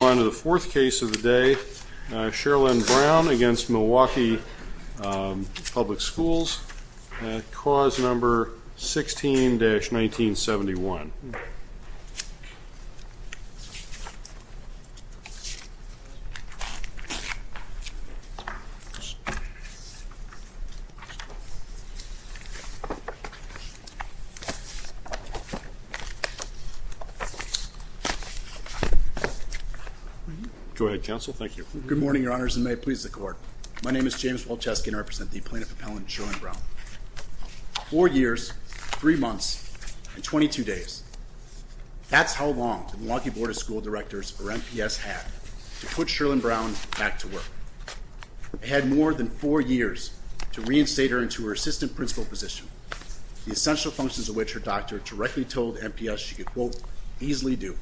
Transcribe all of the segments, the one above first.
On to the fourth case of the day, Sherlyn Brown v. Milwaukee Public Schools, Clause 16-1971. Go ahead, Counsel. Thank you. Good morning, Your Honors, and may it please the Court. My name is James Walczewski, and I represent the plaintiff appellant, Sherlyn Brown. Four years, three months, and 22 days. That's how long the Milwaukee Board of School Directors, or MPS, had to put Sherlyn Brown back to work. It had more than four years to reinstate her into her assistant principal position, the essential functions of which her doctor directly told MPS she could, quote, easily do.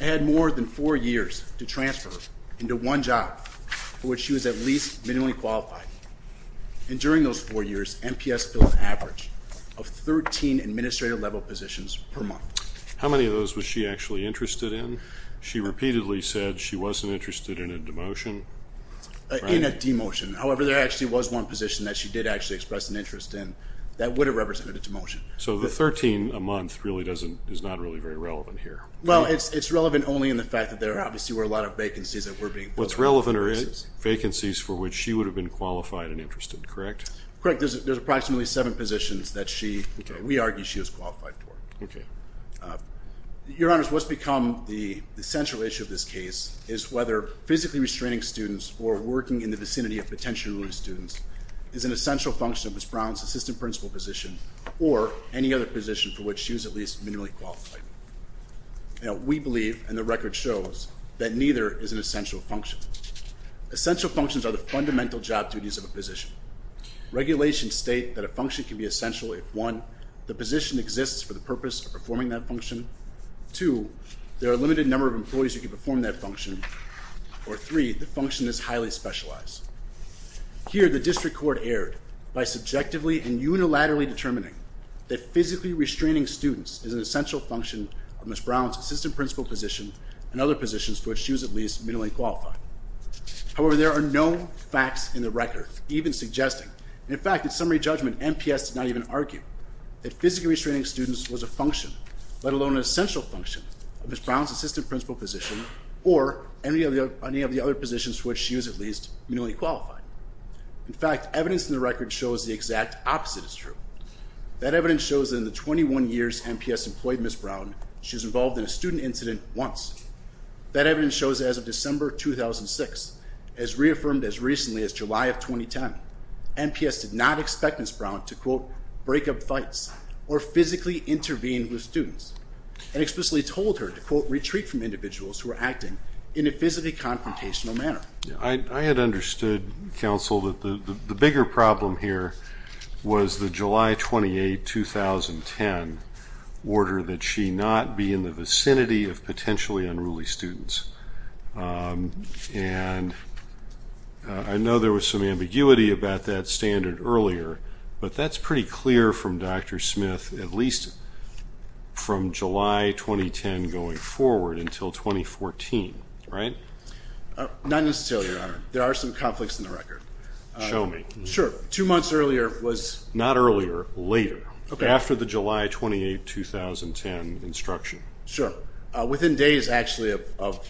It had more than four years to transfer her into one job for which she was at least minimally qualified. And during those four years, MPS filled an average of 13 administrative-level positions per month. How many of those was she actually interested in? She repeatedly said she wasn't interested in a demotion. In a demotion. However, there actually was one position that she did actually express an interest in that would have represented a demotion. So the 13 a month really doesn't, is not really very relevant here. Well, it's relevant only in the fact that there obviously were a lot of vacancies that were being filled. What's relevant are vacancies for which she would have been qualified and interested, correct? Correct. There's approximately seven positions that she, we argue, she was qualified for. Okay. Your Honors, what's become the central issue of this case is whether physically restraining students or working in the vicinity of potential students is an essential function of Ms. Brown's assistant principal position or any other position for which she was at least minimally qualified. We believe, and the record shows, that neither is an essential function. Essential functions are the fundamental job duties of a position. Regulations state that a function can be essential if, one, the position exists for the purpose of performing that function. Two, there are a limited number of employees who can perform that function. Or three, the function is highly specialized. Here, the district court erred by subjectively and unilaterally determining that physically restraining students is an essential function of Ms. Brown's assistant principal position and other positions for which she was at least minimally qualified. However, there are no facts in the record even suggesting, and in fact, in summary judgment, MPS did not even argue, that physically restraining students was a function, let alone an essential function, of Ms. Brown's assistant principal position or any of the other positions for which she was at least minimally qualified. In fact, evidence in the record shows the exact opposite is true. That evidence shows that in the 21 years MPS employed Ms. Brown, she was involved in a student incident once. That evidence shows that as of December 2006, as reaffirmed as recently as July of 2010, MPS did not expect Ms. Brown to, quote, break up fights or physically intervene with students and explicitly told her to, quote, retreat from individuals who were acting in a physically confrontational manner. I had understood, counsel, that the bigger problem here was the July 28, 2010, order that she not be in the vicinity of potentially unruly students. And I know there was some ambiguity about that standard earlier, but that's pretty clear from Dr. Smith, at least from July 2010 going forward until 2014, right? Not necessarily, Your Honor. There are some conflicts in the record. Show me. Sure. Two months earlier was- Not earlier. Later. Okay. After the July 28, 2010 instruction. Sure. Within days, actually, of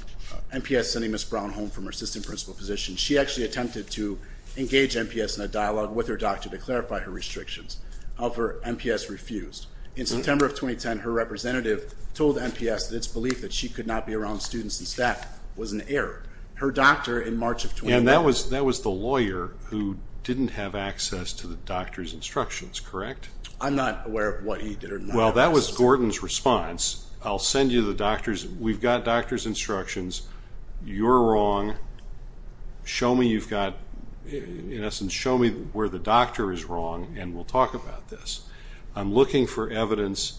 MPS sending Ms. Brown home from her assistant principal position, she actually attempted to engage MPS in a dialogue with her doctor to clarify her restrictions. However, MPS refused. In September of 2010, her representative told MPS that it's believed that she could not be around students and staff. It was an error. Her doctor in March of 2010- And that was the lawyer who didn't have access to the doctor's instructions, correct? I'm not aware of what he did or not. Well, that was Gordon's response. I'll send you the doctor's. We've got doctor's instructions. You're wrong. Show me you've got- In essence, show me where the doctor is wrong, and we'll talk about this. I'm looking for evidence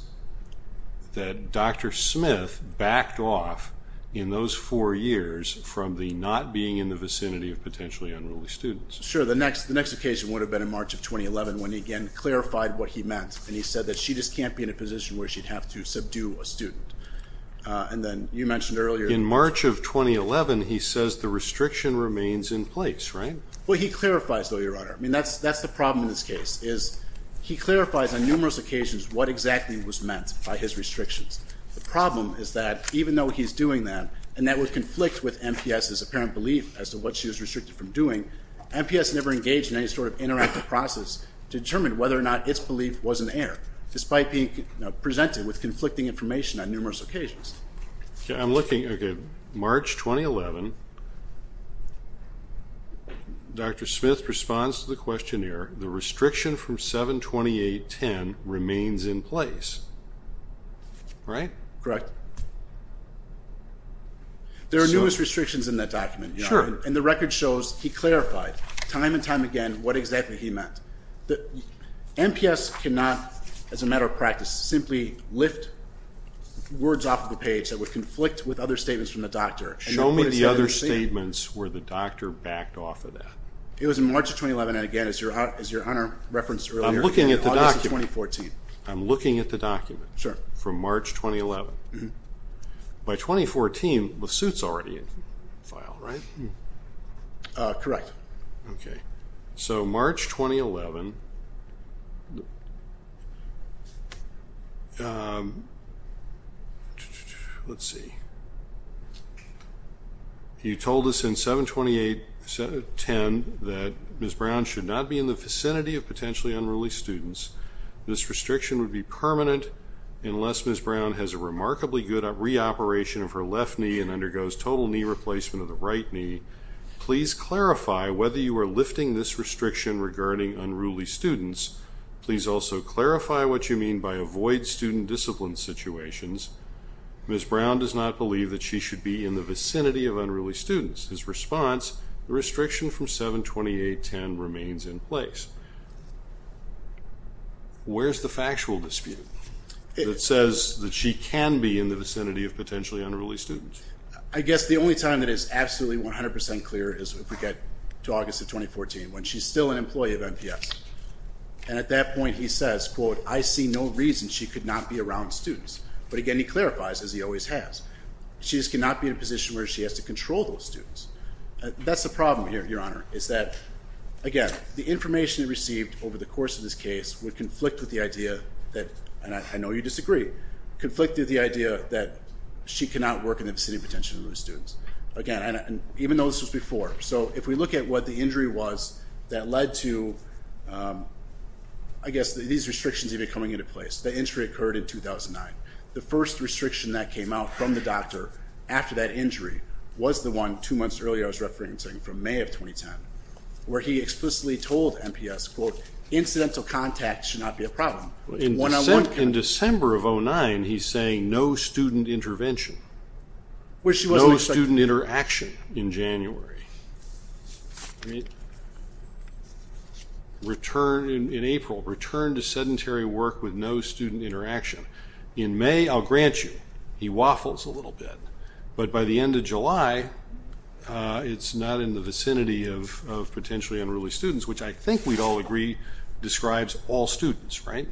that Dr. Smith backed off in those four years from the not being in the vicinity of potentially unruly students. Sure. The next occasion would have been in March of 2011 when he again clarified what he meant, and he said that she just can't be in a position where she'd have to subdue a student. And then you mentioned earlier- In March of 2011, he says the restriction remains in place, right? Well, he clarifies, though, Your Honor. I mean, that's the problem in this case is he clarifies on numerous occasions what exactly was meant by his restrictions. The problem is that even though he's doing that and that would conflict with MPS's apparent belief as to what she was restricted from doing, MPS never engaged in any sort of interactive process to determine whether or not its belief was an error, despite being presented with conflicting information on numerous occasions. I'm looking, okay, March 2011, Dr. Smith responds to the questionnaire, the restriction from 7-28-10 remains in place, right? Correct. There are numerous restrictions in that document, Your Honor. Sure. And the record shows he clarified time and time again what exactly he meant. MPS cannot, as a matter of practice, simply lift words off of the page that would conflict with other statements from the doctor. Show me the other statements where the doctor backed off of that. It was in March of 2011, and again, as Your Honor referenced earlier, August of 2014. I'm looking at the document from March 2011. By 2014, the suit's already in file, right? Correct. Okay. So March 2011, let's see. You told us in 7-28-10 that Ms. Brown should not be in the vicinity of potentially unruly students. This restriction would be permanent unless Ms. Brown has a remarkably good re-operation of her left knee and undergoes total knee replacement of the right knee. Please clarify whether you are lifting this restriction regarding unruly students. Please also clarify what you mean by avoid student discipline situations. Ms. Brown does not believe that she should be in the vicinity of unruly students. His response, the restriction from 7-28-10 remains in place. Where's the factual dispute that says that she can be in the vicinity of potentially unruly students? I guess the only time that is absolutely 100 percent clear is if we get to August of 2014 when she's still an employee of MPS, and at that point he says, quote, I see no reason she could not be around students. But again, he clarifies, as he always has, she just cannot be in a position where she has to control those students. That's the problem here, Your Honor, is that, again, the information he received over the course of this case would conflict with the idea that, and I know you disagree, conflicted the idea that she cannot work in the vicinity of potentially unruly students. Again, even though this was before. So if we look at what the injury was that led to, I guess, these restrictions even coming into place. The injury occurred in 2009. The first restriction that came out from the doctor after that injury was the one two months earlier I was referencing from May of 2010, where he explicitly told MPS, quote, incidental contact should not be a problem. In December of 2009, he's saying no student intervention. No student interaction in January. In April, return to sedentary work with no student interaction. In May, I'll grant you, he waffles a little bit. But by the end of July, it's not in the vicinity of potentially unruly students, which I think we'd all agree describes all students, right?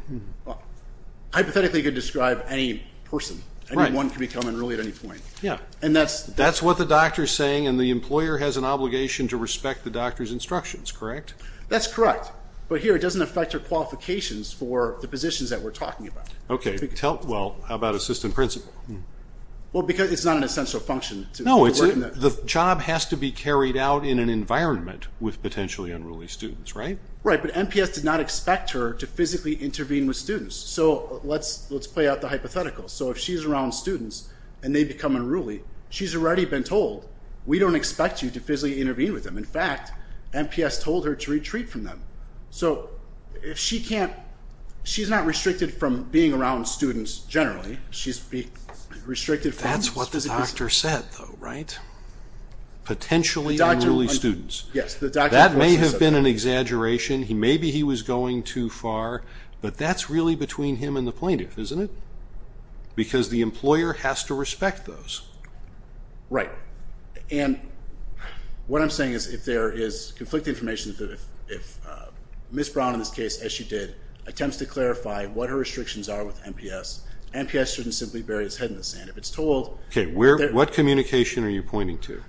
Hypothetically, it could describe any person. Right. Anyone can become unruly at any point. Yeah. And that's what the doctor is saying, and the employer has an obligation to respect the doctor's instructions, correct? That's correct. But here, it doesn't affect your qualifications for the positions that we're talking about. Okay. Well, how about assistant principal? Well, because it's not an essential function. The job has to be carried out in an environment with potentially unruly students, right? Right. But MPS did not expect her to physically intervene with students. So let's play out the hypothetical. So if she's around students and they become unruly, she's already been told, we don't expect you to physically intervene with them. In fact, MPS told her to retreat from them. So if she can't, she's not restricted from being around students generally. That's what the doctor said, though, right? Potentially unruly students. Yes. That may have been an exaggeration. Maybe he was going too far. But that's really between him and the plaintiff, isn't it? Because the employer has to respect those. Right. And what I'm saying is if there is conflicting information, if Ms. Brown, in this case, as she did, attempts to clarify what her restrictions are with MPS, MPS shouldn't simply bury its head in the sand. If it's told that they're- Okay. What communication are you pointing to?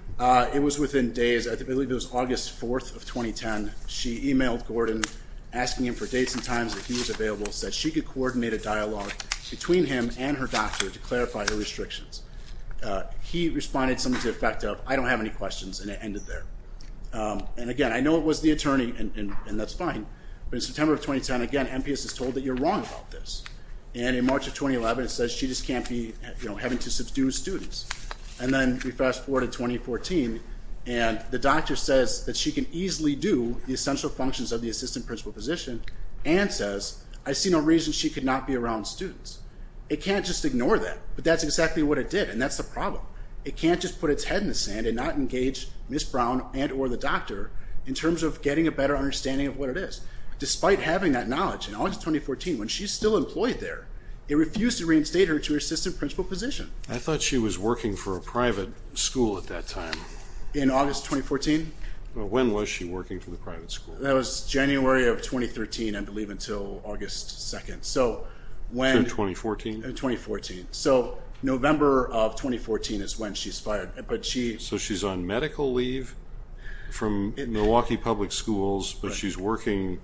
It was within days. I believe it was August 4th of 2010. She emailed Gordon, asking him for dates and times that he was available, and said she could coordinate a dialogue between him and her doctor to clarify her restrictions. He responded something to the effect of, I don't have any questions, and it ended there. And, again, I know it was the attorney, and that's fine. But in September of 2010, again, MPS is told that you're wrong about this. And in March of 2011, it says she just can't be having to subdue students. And then we fast forward to 2014, and the doctor says that she can easily do the essential functions of the assistant principal position, and says, I see no reason she could not be around students. It can't just ignore that. But that's exactly what it did, and that's the problem. It can't just put its head in the sand and not engage Ms. Brown and or the doctor in terms of getting a better understanding of what it is. Despite having that knowledge, in August 2014, when she's still employed there, it refused to reinstate her to her assistant principal position. I thought she was working for a private school at that time. In August 2014? When was she working for the private school? That was January of 2013, I believe, until August 2. So when? 2014? 2014. So November of 2014 is when she's fired. So she's on medical leave from Milwaukee Public Schools, but she's working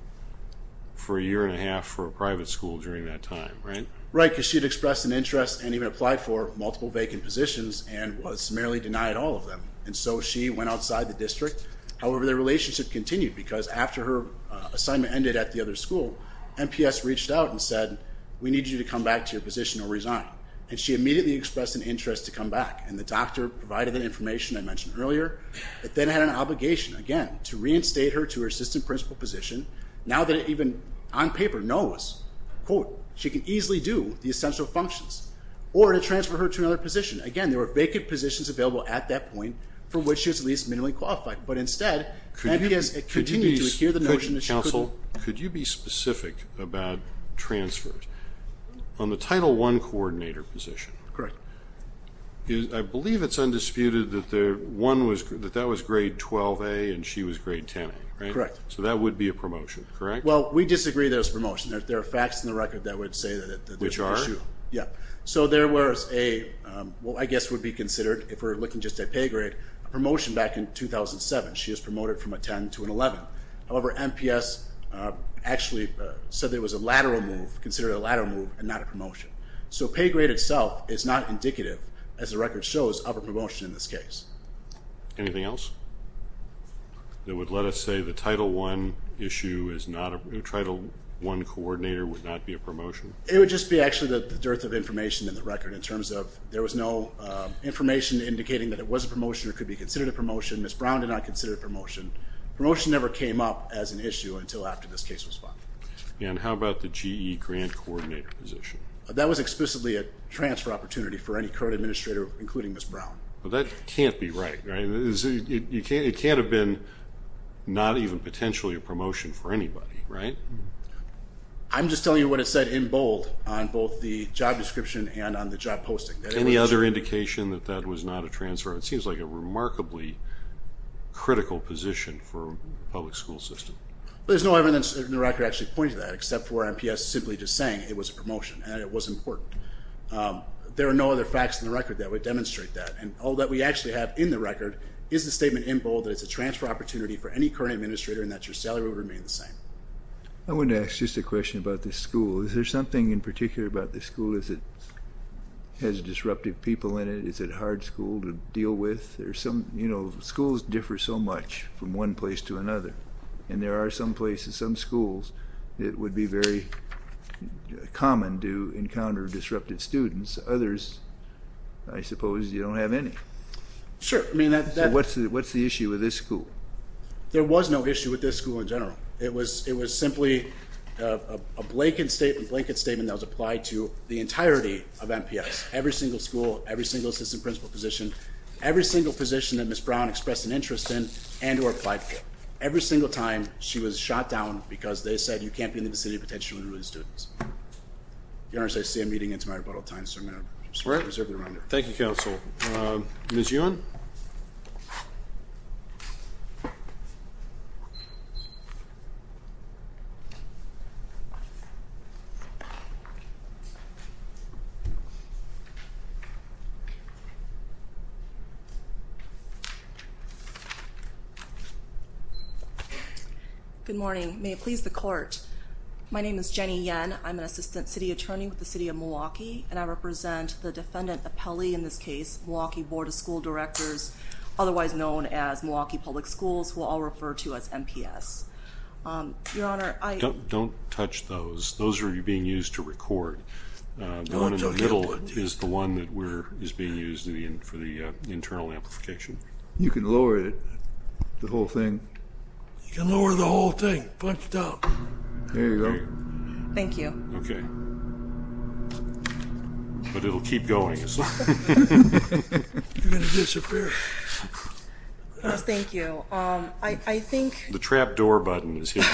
for a year and a half for a private school during that time, right? Right, because she had expressed an interest and even applied for multiple vacant positions and was merely denied all of them. And so she went outside the district. However, their relationship continued, because after her assignment ended at the other school, MPS reached out and said, we need you to come back to your position or resign. And she immediately expressed an interest to come back, and the doctor provided the information I mentioned earlier. It then had an obligation, again, to reinstate her to her assistant principal position, now that it even, on paper, knows, quote, she can easily do the essential functions, or to transfer her to another position. Again, there were vacant positions available at that point for which she was at least minimally qualified. But instead, MPS continued to adhere to the notion that she couldn't. Counsel, could you be specific about transfers? On the Title I coordinator position, I believe it's undisputed that that was grade 12A and she was grade 10A, right? Correct. So that would be a promotion, correct? Well, we disagree there's a promotion. There are facts in the record that would say that. Which are? Yeah. So there was a, what I guess would be considered, if we're looking just at pay grade, a promotion back in 2007. She was promoted from a 10 to an 11. However, MPS actually said there was a lateral move, considered a lateral move and not a promotion. So pay grade itself is not indicative, as the record shows, of a promotion in this case. Anything else that would let us say the Title I coordinator would not be a promotion? It would just be actually the dearth of information in the record in terms of there was no information indicating that it was a promotion or could be considered a promotion. Ms. Brown did not consider it a promotion. Promotion never came up as an issue until after this case was filed. And how about the GE grant coordinator position? That was explicitly a transfer opportunity for any current administrator, including Ms. Brown. But that can't be right, right? It can't have been not even potentially a promotion for anybody, right? I'm just telling you what it said in bold on both the job description and on the job posting. Any other indication that that was not a transfer? It seems like a remarkably critical position for a public school system. There's no evidence in the record actually pointing to that, except for MPS simply just saying it was a promotion and it was important. There are no other facts in the record that would demonstrate that. And all that we actually have in the record is the statement in bold that it's a transfer opportunity for any current administrator and that your salary would remain the same. I wanted to ask just a question about this school. Is there something in particular about this school? Does it have disruptive people in it? Is it a hard school to deal with? Schools differ so much from one place to another, and there are some places, some schools, that would be very common to encounter disruptive students. Others, I suppose, you don't have any. Sure. What's the issue with this school? There was no issue with this school in general. It was simply a blanket statement that was applied to the entirety of MPS, every single school, every single assistant principal position, every single position that Ms. Brown expressed an interest in and or applied for, every single time she was shot down because they said, you can't be in the vicinity of potentially rude students. Your Honor, as I say, I'm meeting into my rebuttal time, so I'm going to reserve the remainder. Thank you, Counsel. Ms. Ewan? Good morning. May it please the Court. My name is Jenny Yen. I'm an assistant city attorney with the City of Milwaukee, and I represent the defendant appellee in this case, Milwaukee Board of School Directors, otherwise known as Milwaukee Public Schools, who I'll refer to as MPS. Your Honor, I — Don't touch those. Those are being used to record. The one in the middle is the one that is being used for the internal amplification. You can lower it, the whole thing. You can lower the whole thing. Punch it out. There you go. Thank you. Okay. But it will keep going. You're going to disappear. Thank you. I think — The trap door button is here.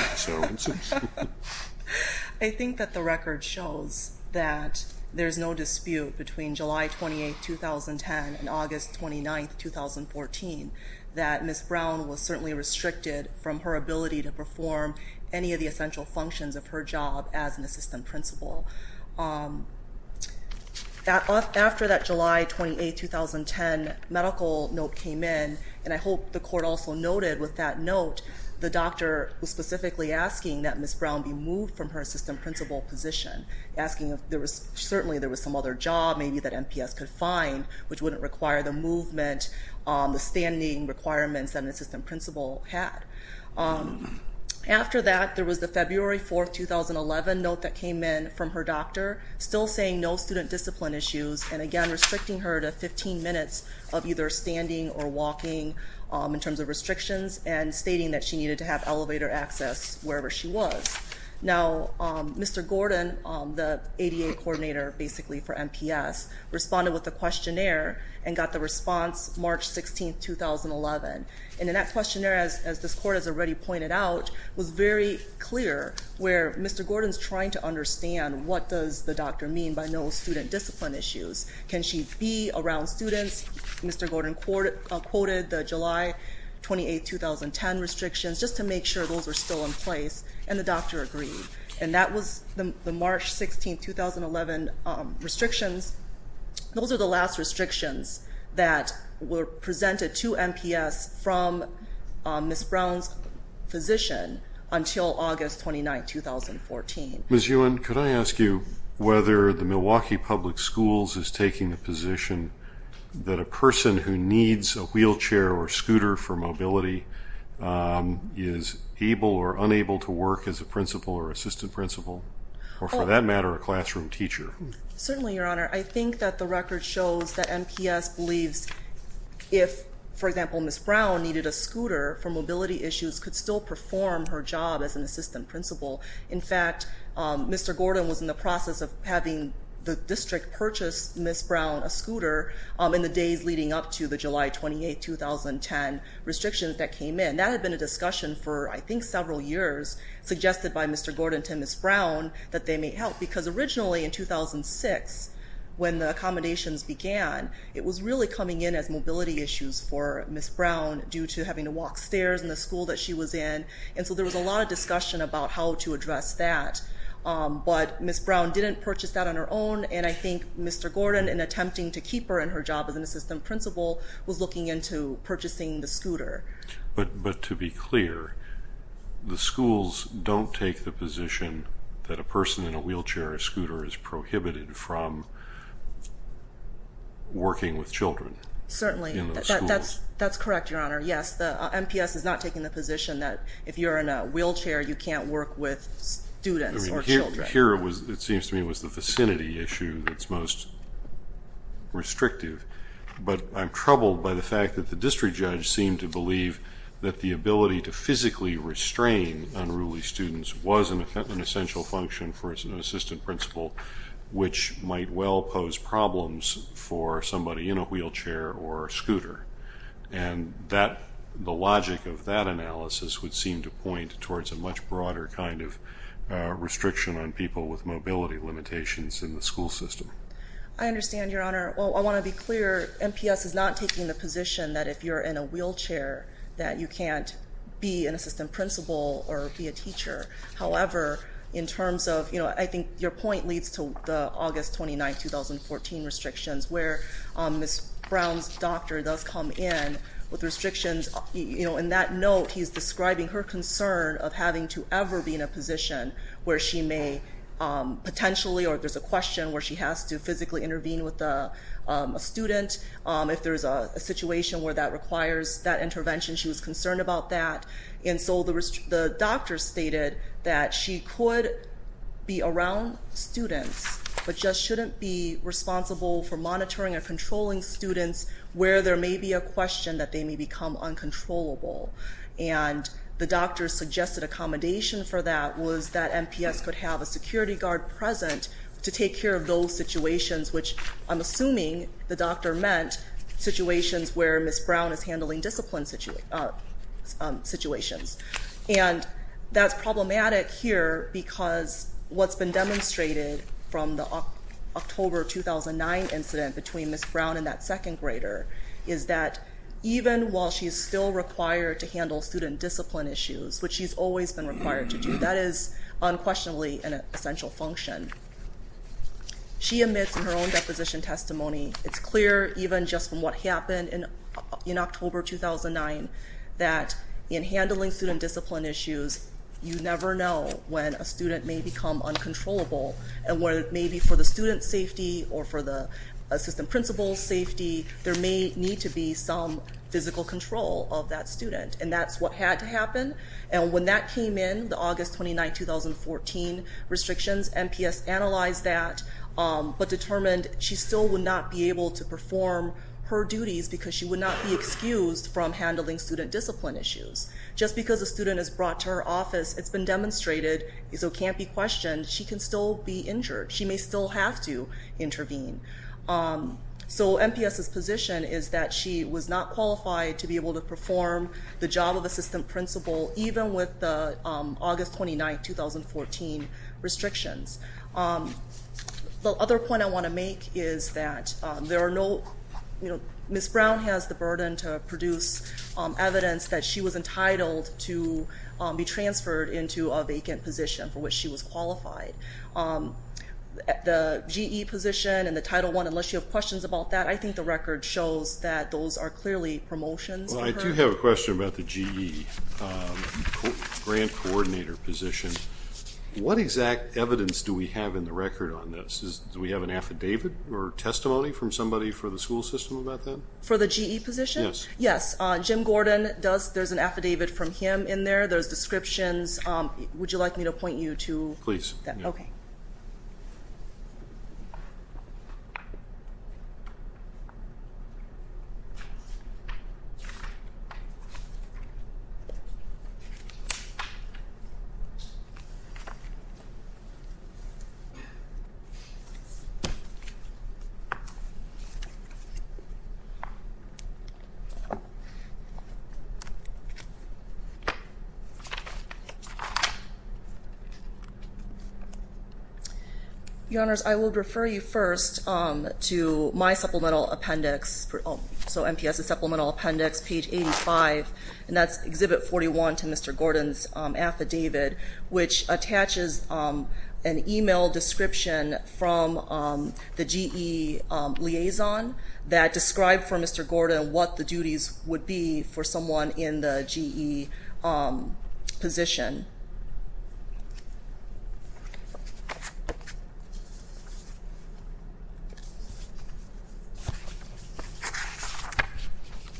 I think that the record shows that there's no dispute between July 28, 2010, and August 29, 2014, that Ms. Brown was certainly restricted from her ability to perform any of the essential functions of her job as an assistant principal. After that July 28, 2010 medical note came in, and I hope the Court also noted with that note, the doctor was specifically asking that Ms. Brown be moved from her assistant principal position, asking if there was — certainly there was some other job maybe that MPS could find, which wouldn't require the movement, the standing requirements that an assistant principal had. After that, there was the February 4, 2011 note that came in from her doctor, still saying no student discipline issues, and again restricting her to 15 minutes of either standing or walking in terms of restrictions, and stating that she needed to have elevator access wherever she was. Now, Mr. Gordon, the ADA coordinator basically for MPS, responded with a questionnaire and got the response March 16, 2011. And in that questionnaire, as this Court has already pointed out, was very clear where Mr. Gordon's trying to understand what does the doctor mean by no student discipline issues. Can she be around students? Mr. Gordon quoted the July 28, 2010 restrictions just to make sure those were still in place, and the doctor agreed. And that was the March 16, 2011 restrictions. Those are the last restrictions that were presented to MPS from Ms. Brown's position until August 29, 2014. Ms. Yuen, could I ask you whether the Milwaukee Public Schools is taking the position that a person who needs a wheelchair or scooter for mobility is able or unable to work as a principal or assistant principal, or for that matter, a classroom teacher? Certainly, Your Honor. I think that the record shows that MPS believes if, for example, Ms. Brown needed a scooter for mobility issues, could still perform her job as an assistant principal. In fact, Mr. Gordon was in the process of having the district purchase Ms. Brown a scooter in the days leading up to the July 28, 2010 restrictions that came in. That had been a discussion for, I think, several years, suggested by Mr. Gordon to Ms. Brown that they may help. Because originally in 2006, when the accommodations began, it was really coming in as mobility issues for Ms. Brown due to having to walk stairs in the school that she was in. And so there was a lot of discussion about how to address that. But Ms. Brown didn't purchase that on her own, and I think Mr. Gordon, in attempting to keep her in her job as an assistant principal, was looking into purchasing the scooter. But to be clear, the schools don't take the position that a person in a wheelchair or scooter is prohibited from working with children? Certainly. That's correct, Your Honor. Yes, the MPS is not taking the position that if you're in a wheelchair, you can't work with students or children. Here, it seems to me, it was the vicinity issue that's most restrictive. But I'm troubled by the fact that the district judge seemed to believe that the ability to physically restrain unruly students was an essential function for an assistant principal, which might well pose problems for somebody in a wheelchair or scooter. And the logic of that analysis would seem to point towards a much broader kind of restriction on people with mobility limitations in the school system. I understand, Your Honor. Well, I want to be clear, MPS is not taking the position that if you're in a wheelchair, that you can't be an assistant principal or be a teacher. However, in terms of, you know, I think your point leads to the August 29, 2014 restrictions, where Ms. Brown's doctor does come in with restrictions. You know, in that note, he's describing her concern of having to ever be in a position where she may potentially, or there's a question where she has to physically intervene with a student. If there's a situation where that requires that intervention, she was concerned about that. And so the doctor stated that she could be around students, but just shouldn't be responsible for monitoring or controlling students where there may be a question that they may become uncontrollable. And the doctor suggested accommodation for that was that MPS could have a security guard present to take care of those situations, which I'm assuming the doctor meant situations where Ms. Brown is handling discipline situations. And that's problematic here because what's been demonstrated from the October 2009 incident between Ms. Brown and that second grader is that even while she's still required to handle student discipline issues, which she's always been required to do, that is unquestionably an essential function. She admits in her own deposition testimony, it's clear even just from what happened in October 2009, that in handling student discipline issues, you never know when a student may become uncontrollable. And where it may be for the student's safety or for the assistant principal's safety, there may need to be some physical control of that student, and that's what had to happen. And when that came in, the August 2009-2014 restrictions, MPS analyzed that, but determined she still would not be able to perform her duties because she would not be excused from handling student discipline issues. Just because a student is brought to her office, it's been demonstrated, so it can't be questioned, she can still be injured. She may still have to intervene. So MPS's position is that she was not qualified to be able to perform the job of assistant principal, even with the August 2009-2014 restrictions. The other point I want to make is that Ms. Brown has the burden to produce evidence that she was entitled to be transferred into a vacant position for which she was qualified. The GE position and the Title I, unless you have questions about that, I think the record shows that those are clearly promotions. Well, I do have a question about the GE grant coordinator position. What exact evidence do we have in the record on this? Do we have an affidavit or testimony from somebody for the school system about that? For the GE position? Yes. Yes, Jim Gordon does. There's an affidavit from him in there. There's descriptions. Would you like me to point you to that? Please. Okay. Your Honors, I will refer you first to my supplemental appendix. So MPS's supplemental appendix, page 85, and that's Exhibit 41 to Mr. Gordon's affidavit, which attaches an email description from the GE liaison that described for Mr. Gordon what the duties would be for someone in the GE position.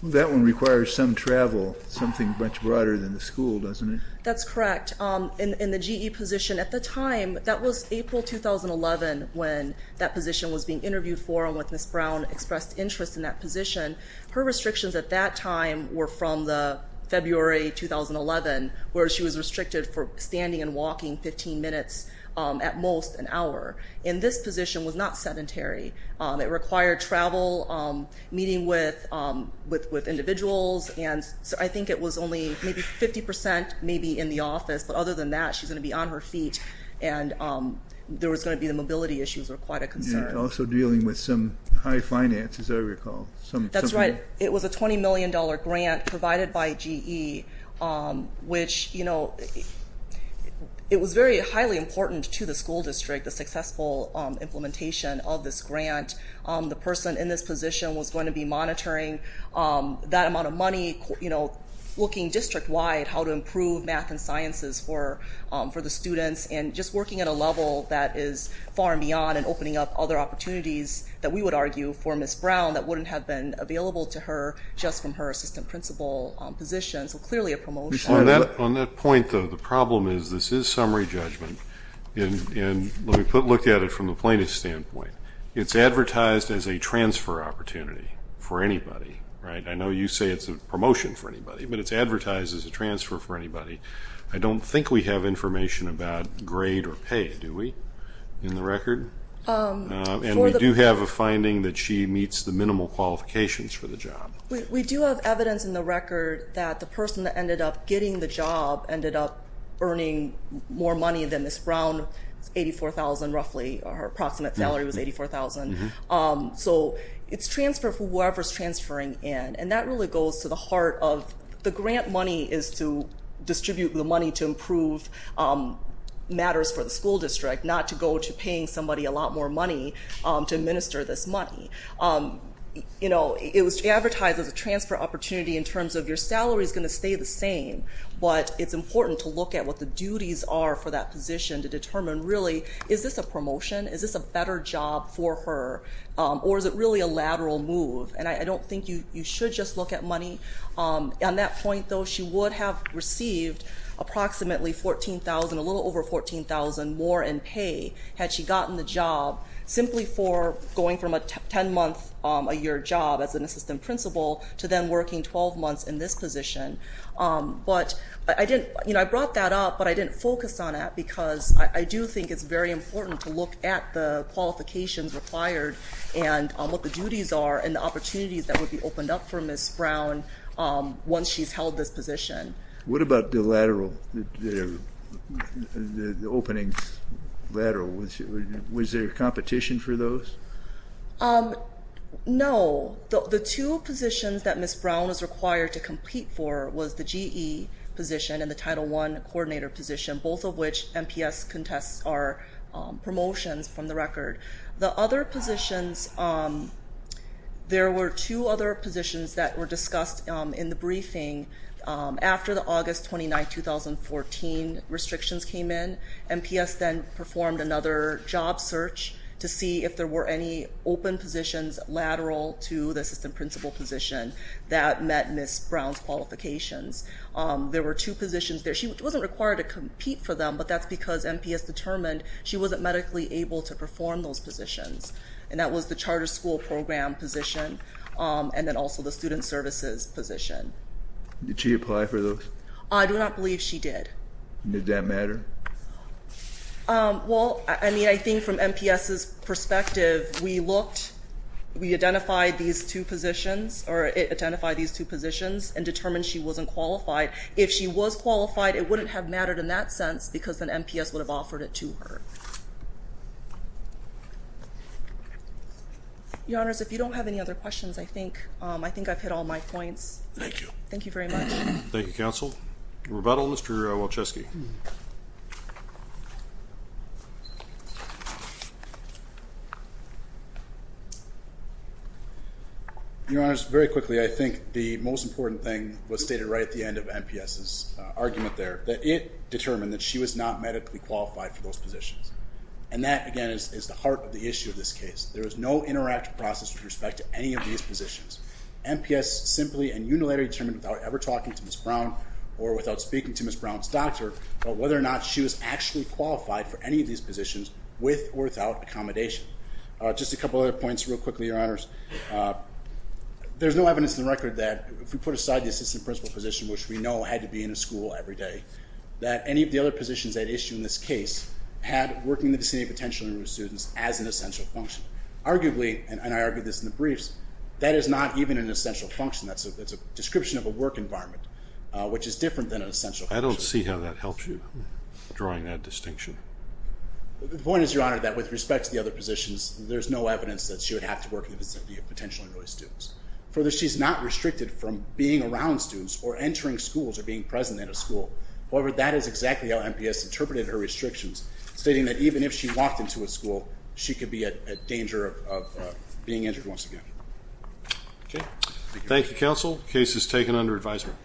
That one requires some travel, something much broader than the school, doesn't it? That's correct. In the GE position, at the time, that was April 2011 when that position was being interviewed for and when Ms. Brown expressed interest in that position. Her restrictions at that time were from the February 2011, where she was restricted for standing and walking 15 minutes at most an hour. And this position was not sedentary. It required travel, meeting with individuals, and I think it was only maybe 50 percent maybe in the office. But other than that, she's going to be on her feet, and there was going to be the mobility issues were quite a concern. She's also dealing with some high finances, I recall. That's right. It was a $20 million grant provided by GE, which, you know, it was very highly important to the school district, the successful implementation of this grant. The person in this position was going to be monitoring that amount of money, you know, looking district-wide how to improve math and sciences for the students and just working at a level that is far and beyond and opening up other opportunities that we would argue for Ms. Brown that wouldn't have been available to her just from her assistant principal position, so clearly a promotion. On that point, though, the problem is this is summary judgment, and let me look at it from the plaintiff's standpoint. It's advertised as a transfer opportunity for anybody, right? I know you say it's a promotion for anybody, but it's advertised as a transfer for anybody. I don't think we have information about grade or pay, do we, in the record? And we do have a finding that she meets the minimal qualifications for the job. We do have evidence in the record that the person that ended up getting the job ended up earning more money than Ms. Brown. It's $84,000 roughly, or her approximate salary was $84,000. So it's transfer for whoever's transferring in, and that really goes to the heart of the grant money is to distribute the money to improve matters for the school district, not to go to paying somebody a lot more money to administer this money. It was advertised as a transfer opportunity in terms of your salary is going to stay the same, but it's important to look at what the duties are for that position to determine, really, is this a promotion? Is this a better job for her, or is it really a lateral move? On that point, though, she would have received approximately $14,000, a little over $14,000 more in pay had she gotten the job simply for going from a 10-month-a-year job as an assistant principal to then working 12 months in this position. But I brought that up, but I didn't focus on that because I do think it's very important to look at the qualifications required and what the duties are and the opportunities that would be opened up for Ms. Brown once she's held this position. What about the opening lateral? Was there competition for those? No. The two positions that Ms. Brown was required to compete for was the GE position and the Title I coordinator position, both of which MPS contests are promotions from the record. The other positions, there were two other positions that were discussed in the briefing. After the August 29, 2014 restrictions came in, MPS then performed another job search to see if there were any open positions lateral to the assistant principal position that met Ms. Brown's qualifications. There were two positions there. She wasn't required to compete for them, but that's because MPS determined she wasn't medically able to perform those positions, and that was the charter school program position and then also the student services position. Did she apply for those? I do not believe she did. Did that matter? Well, I mean, I think from MPS's perspective, we looked, we identified these two positions or it identified these two positions and determined she wasn't qualified. If she was qualified, it wouldn't have mattered in that sense because then MPS would have offered it to her. Your Honors, if you don't have any other questions, I think I've hit all my points. Thank you. Thank you very much. Thank you, Counsel. Rebuttal, Mr. Walczewski. Your Honors, very quickly, I think the most important thing was stated right at the end of MPS's argument there, that it determined that she was not medically qualified for those positions, and that, again, is the heart of the issue of this case. There is no interactive process with respect to any of these positions. MPS simply and unilaterally determined without ever talking to Ms. Brown or without speaking to Ms. Brown's doctor, whether or not she was actually qualified for any of these positions with or without accommodation. Just a couple of other points real quickly, Your Honors. There's no evidence in the record that, if we put aside the assistant principal position, which we know had to be in a school every day, that any of the other positions at issue in this case had working in the vicinity of potential students as an essential function. Arguably, and I argued this in the briefs, that is not even an essential function. That's a description of a work environment. Which is different than an essential function. I don't see how that helps you, drawing that distinction. The point is, Your Honor, that with respect to the other positions, there's no evidence that she would have to work in the vicinity of potential and early students. Further, she's not restricted from being around students or entering schools or being present at a school. However, that is exactly how MPS interpreted her restrictions, stating that even if she walked into a school, she could be at danger of being injured once again. Thank you, Counsel. Case is taken under advisement.